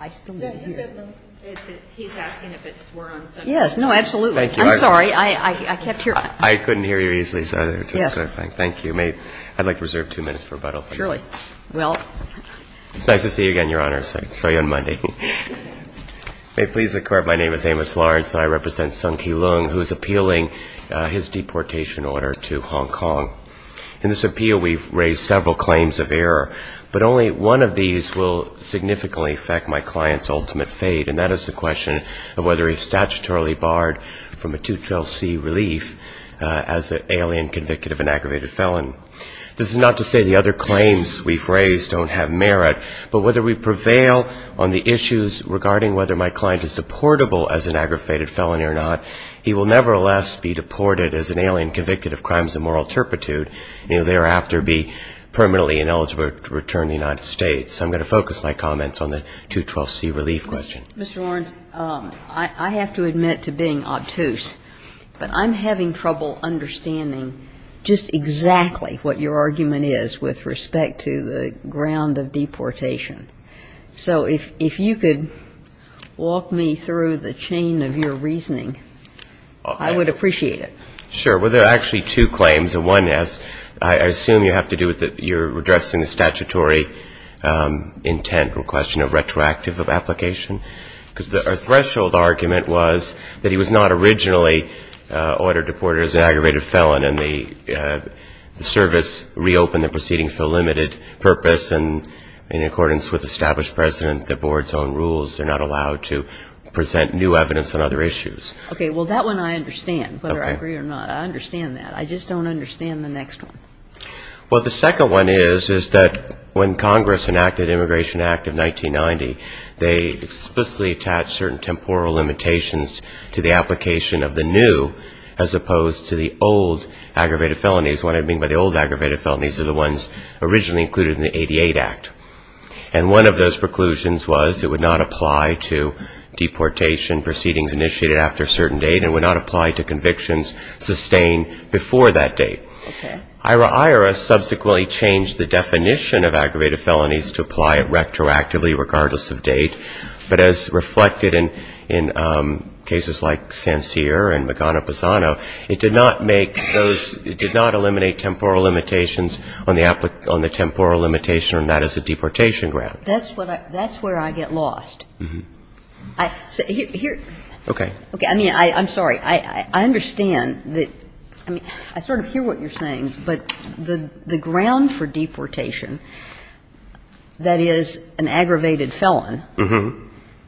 My name is Amos Lawrence, and I represent Sung Kee Leung, who is appealing his deportation order to Hong Kong. In this appeal, we've raised several claims of error, but only one of these will significantly affect my client's ultimate fate, and that is the question of whether he's statutorily barred from a 212C relief as an alien convict of an aggravated felon. This is not to say the other claims we've raised don't have merit, but whether we prevail on the issues regarding whether my client is deportable as an aggravated felon or not, he will nevertheless be deported as an alien convict of crimes of moral turpitude, and, you know, thereafter be permanently ineligible to return to the United States. So I'm going to focus my comments on the 212C relief question. Kagan. Mr. Lawrence, I have to admit to being obtuse, but I'm having trouble understanding just exactly what your argument is with respect to the ground of deportation. So if you could walk me through the chain of your reasoning, I would appreciate it. Sure. Well, there are actually two claims, and one is, I assume you have to do with the you're addressing the statutory intent or question of retroactive of application, because our threshold argument was that he was not originally ordered to be deported as an aggravated felon, and the service reopened the proceedings for a limited purpose, and in accordance with established precedent, the board's own rules, they're not allowed to present new evidence on other issues. Okay. Well, that one I understand, whether I agree or not. I understand that. I just don't understand the next one. Well, the second one is, is that when Congress enacted the Immigration Act of 1990, they explicitly attached certain temporal limitations to the application of the new as opposed to the old aggravated felonies. What I mean by the old aggravated felonies are the ones originally included in the 88 Act. And one of those preclusions was it would not apply to deportation proceedings initiated after a certain date and would not apply to convictions sustained before that date. Okay. IRAIRA subsequently changed the definition of aggravated felonies to apply it retroactively regardless of date, but as reflected in cases like Sancier and Magana-Posano, it did not make those, it did not eliminate temporal limitations on the temporal limitation on that as a deportation grant. That's where I get lost. Mm-hmm. Here. Okay. Okay. I mean, I'm sorry. I understand that, I mean, I sort of hear what you're saying, but the ground for deportation, that is, an aggravated felon,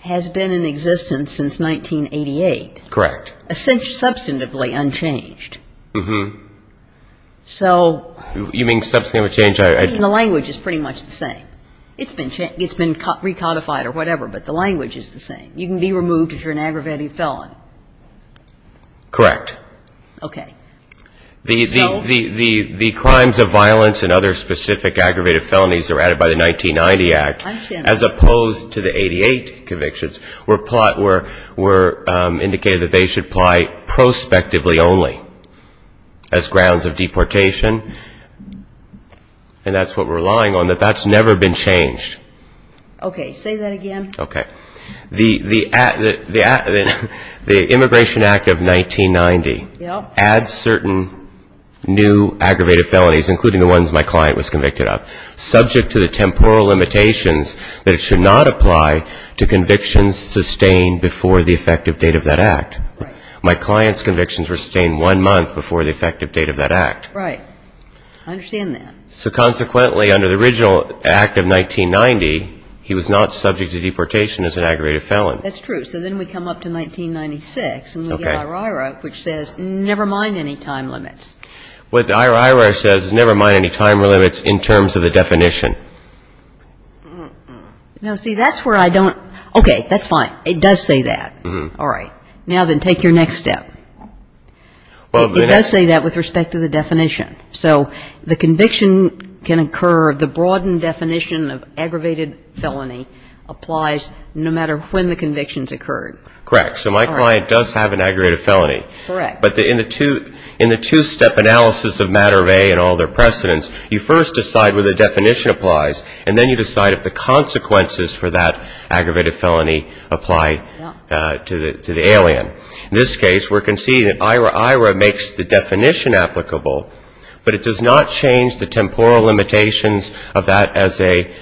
has been in existence since 1988. Correct. Substantively unchanged. Mm-hmm. So the language is pretty much the same. It's been recodified or whatever, but the language is the same. You can be removed if you're an aggravated felon. Correct. Okay. The crimes of violence and other specific aggravated felonies that were added by the 1990 Act, as opposed to the 88 convictions, were indicated that they should apply prospectively only as grounds of deportation, and that's what we're relying on, that that's never been changed. Okay. Say that again. Okay. The Immigration Act of 1990 adds certain new aggravated felonies, including the ones my client was convicted of, subject to the temporal limitations that it should not apply to convictions sustained before the effective date of that act. Right. My client's convictions were sustained one month before the effective date of that act. Right. I understand that. So consequently, under the original Act of 1990, he was not subject to deportation as an aggravated felon. That's true. So then we come up to 1996. Okay. And we get IRIRA, which says never mind any time limits. What IRIRA says is never mind any time limits in terms of the definition. Now, see, that's where I don't – okay. That's fine. It does say that. All right. Now then, take your next step. Well, the next – It does say that with respect to the definition. So the conviction can occur – The broadened definition of aggravated felony applies no matter when the convictions occurred. Correct. All right. So my client does have an aggravated felony. Correct. But in the two-step analysis of matter of A and all their precedents, you first decide where the definition applies, and then you decide if the consequences for that aggravated felony apply to the alien. Yeah. In this case, we're conceding that IRIRA makes the definition applicable, but it does not change the temporal limitations of that as a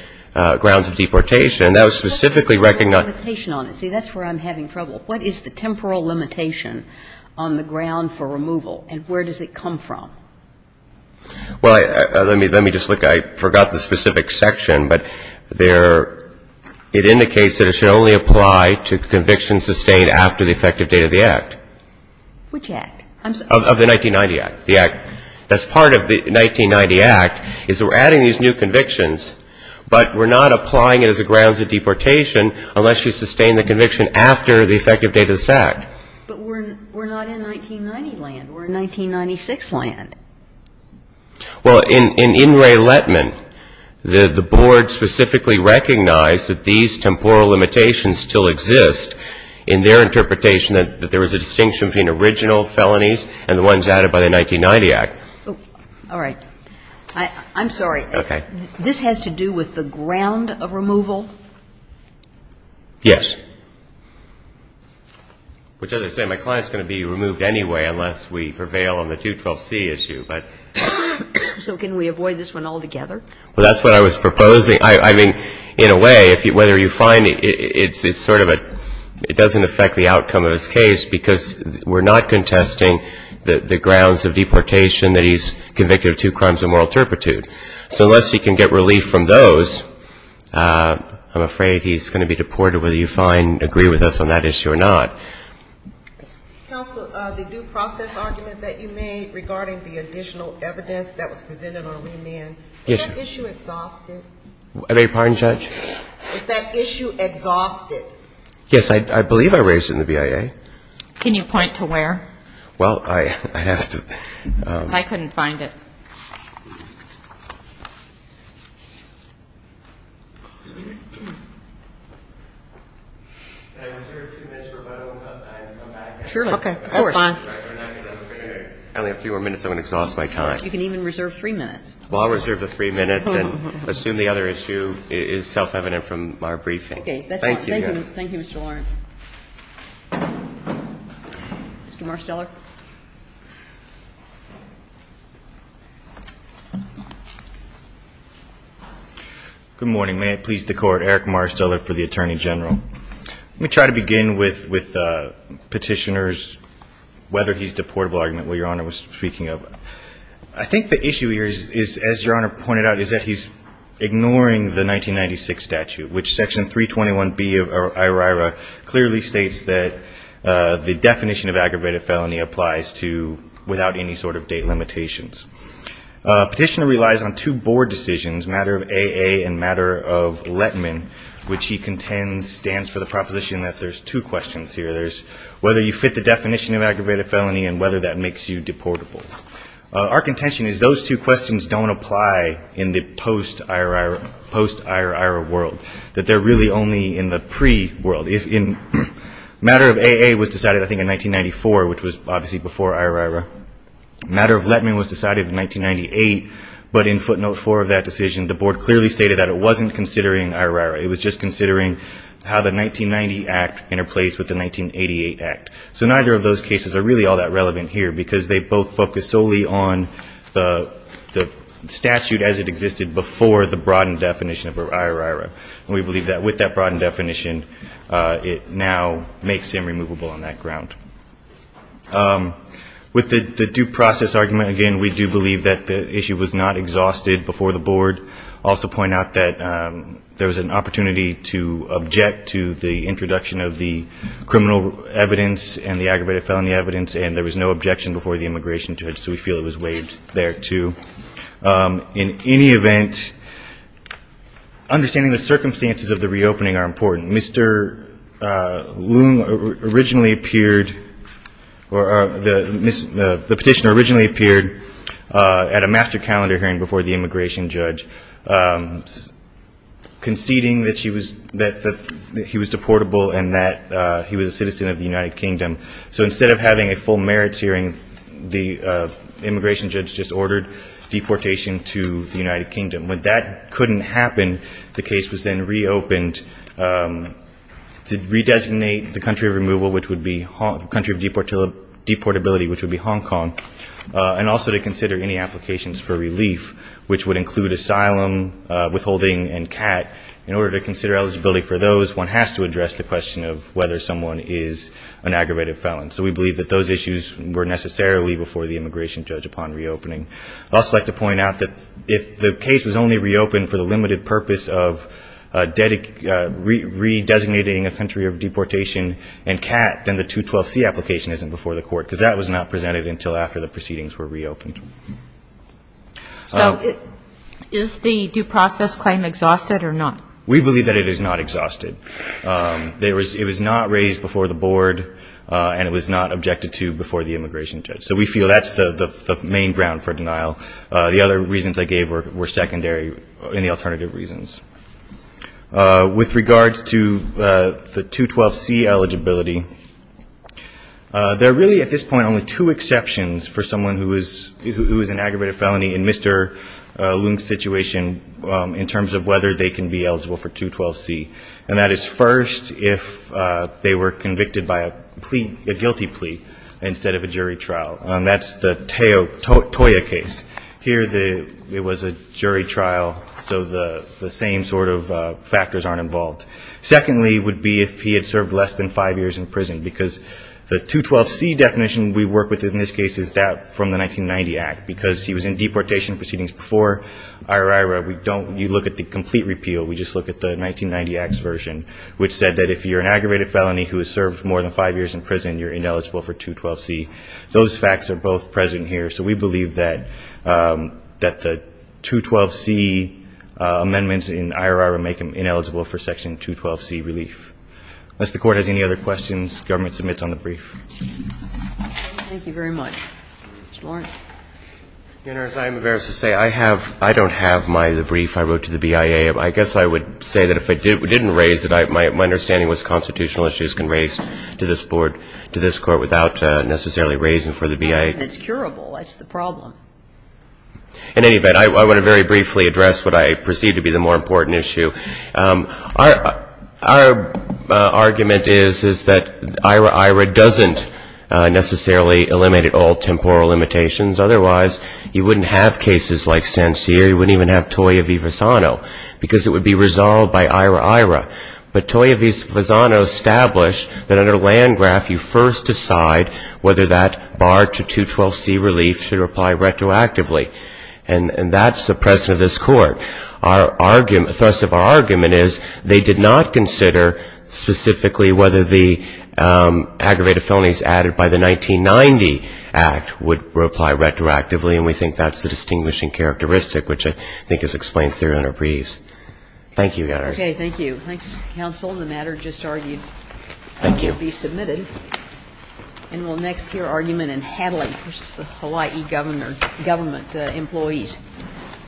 grounds of deportation. That was specifically – What's the temporal limitation on it? See, that's where I'm having trouble. What is the temporal limitation on the ground for removal, and where does it come from? Well, let me – let me just look. I forgot the specific section, but there – it indicates that it should only apply to convictions sustained after the effective date of the Act. Which Act? I'm sorry. Of the 1990 Act. The Act – that's part of the 1990 Act, is that we're adding these new convictions, but we're not applying it as a grounds of deportation unless you sustain the conviction after the effective date of this Act. But we're – we're not in 1990 land. We're in 1996 land. Well, in – in In re Lettman, the – the board specifically recognized that these temporal limitations still exist in their interpretation that there was a temporal limitation in the original felonies and the ones added by the 1990 Act. All right. I'm sorry. Okay. This has to do with the ground of removal? Yes. Which is to say, my client's going to be removed anyway unless we prevail on the 212C issue, but – So can we avoid this one altogether? Well, that's what I was proposing. I mean, in a way, if you – whether you find it's sort of a – it doesn't affect the outcome of his case because we're not contesting the grounds of deportation that he's convicted of two crimes of moral turpitude. So unless he can get relief from those, I'm afraid he's going to be deported, whether you find – agree with us on that issue or not. Counsel, the due process argument that you made regarding the additional evidence that was presented on remand, is that issue exhausted? I beg your pardon, Judge? Is that issue exhausted? Yes. I believe I raised it in the BIA. Can you point to where? Well, I have to – I couldn't find it. Can I reserve two minutes for my own time and come back? Surely. Of course. Okay. That's fine. I only have three more minutes. I'm going to exhaust my time. You can even reserve three minutes. Well, I'll reserve the three minutes and assume the other issue is self-evident from our briefing. Okay. That's fine. Thank you, Your Honor. Thank you, Mr. Lawrence. Mr. Marsteller. Good morning. May it please the Court, Eric Marsteller for the Attorney General. Let me try to begin with petitioners, whether he's deportable argument, what Your Honor was speaking of. I think the issue here is, as Your Honor pointed out, is that he's ignoring the 1996 statute, which Section 321B of IORIRA clearly states that the definition of aggravated felony applies to – without any sort of date limitations. Petitioner relies on two board decisions, matter of AA and matter of Letman, which he contends stands for the proposition that there's two questions here. There's whether you fit the definition of aggravated felony and whether that makes you deportable. Our contention is those two questions don't apply in the post-IORIRA world, that they're really only in the pre-world. Matter of AA was decided, I think, in 1994, which was obviously before IORIRA. Matter of Letman was decided in 1998, but in footnote four of that decision, the board clearly stated that it wasn't considering IORIRA. It was just considering how the 1990 Act interplays with the 1988 Act. So neither of those cases are really all that relevant here, because they both focus solely on the statute as it existed before the broadened definition of IORIRA. We believe that with that broadened definition, it now makes him removable on that ground. With the due process argument, again, we do believe that the issue was not exhausted before the board. I'll also point out that there was an opportunity to object to the introduction of the criminal evidence and the aggravated felony evidence, and there was no objection before the immigration judge, so we feel it was waived there, too. In any event, understanding the circumstances of the reopening are important. Mr. Loom originally appeared, or the petitioner originally appeared at a master calendar hearing before the immigration judge, conceding that he was deportable and that he was a citizen of the United Kingdom. So instead of having a full merits hearing, the immigration judge just ordered deportation to the United Kingdom. When that couldn't happen, the case was then reopened to redesignate the country of removal, which would be, the country of deportability, which would be Hong Kong. And also to consider any applications for relief, which would include asylum, withholding, and CAT. In order to consider eligibility for those, one has to address the question of whether someone is an aggravated felon. So we believe that those issues were necessarily before the immigration judge upon reopening. I'd also like to point out that if the case was only reopened for the limited purpose of redesignating a country of deportation and CAT, then the 212C application isn't before the court, because that was not presented until after the proceedings were reopened. So is the due process claim exhausted or not? We believe that it is not exhausted. It was not raised before the board, and it was not objected to before the immigration judge. So we feel that's the main ground for denial. The other reasons I gave were secondary in the alternative reasons. With regards to the 212C eligibility, there are really at this point only two exceptions for someone who is an aggravated felony in Mr. Leung's situation in terms of whether they can be eligible for 212C. And that is first, if they were convicted by a guilty plea instead of a jury trial. That's the Toya case. Here it was a jury trial, so the same sort of factors aren't involved. Secondly would be if he had served less than five years in prison, because the 212C definition we work with in this case is that from the 1990 Act, because he was in deportation proceedings before IORIRA. You look at the complete repeal, we just look at the 1990 Act's version, which said that if you're an aggravated felony who has served more than five years in prison, you're ineligible for 212C. Those facts are both present here, so we believe that the 212C amendments in IORIRA make him ineligible for Section 212C relief. Unless the Court has any other questions, government submits on the brief. Thank you very much. Mr. Lawrence. Your Honor, as I am embarrassed to say, I don't have the brief I wrote to the BIA. I guess I would say that if I didn't raise it, my understanding was constitutional issues can raise to this Court without necessarily raising for the BIA. It's curable. That's the problem. In any event, I want to very briefly address what I perceive to be the more important issue. Our argument is that IORIRA doesn't necessarily eliminate all temporal limitations. Otherwise, you wouldn't have cases like Sancier, you wouldn't even have Toya v. Vazano, because it would be resolved by IORIRA. But Toya v. Vazano established that under Landgraf, you first decide whether that bar to 212C relief should apply retroactively. And that's the precedent of this Court. The thrust of our argument is they did not consider specifically whether the aggravated felonies added by the 1990 Act would apply retroactively, and we think that's the distinguishing characteristic, which I think is explained through in our briefs. Thank you, Your Honor. Okay. Thank you. Thanks, counsel. The matter just argued. Thank you. It will be submitted. And we'll next hear argument in Hadley versus the Hawaii government employees.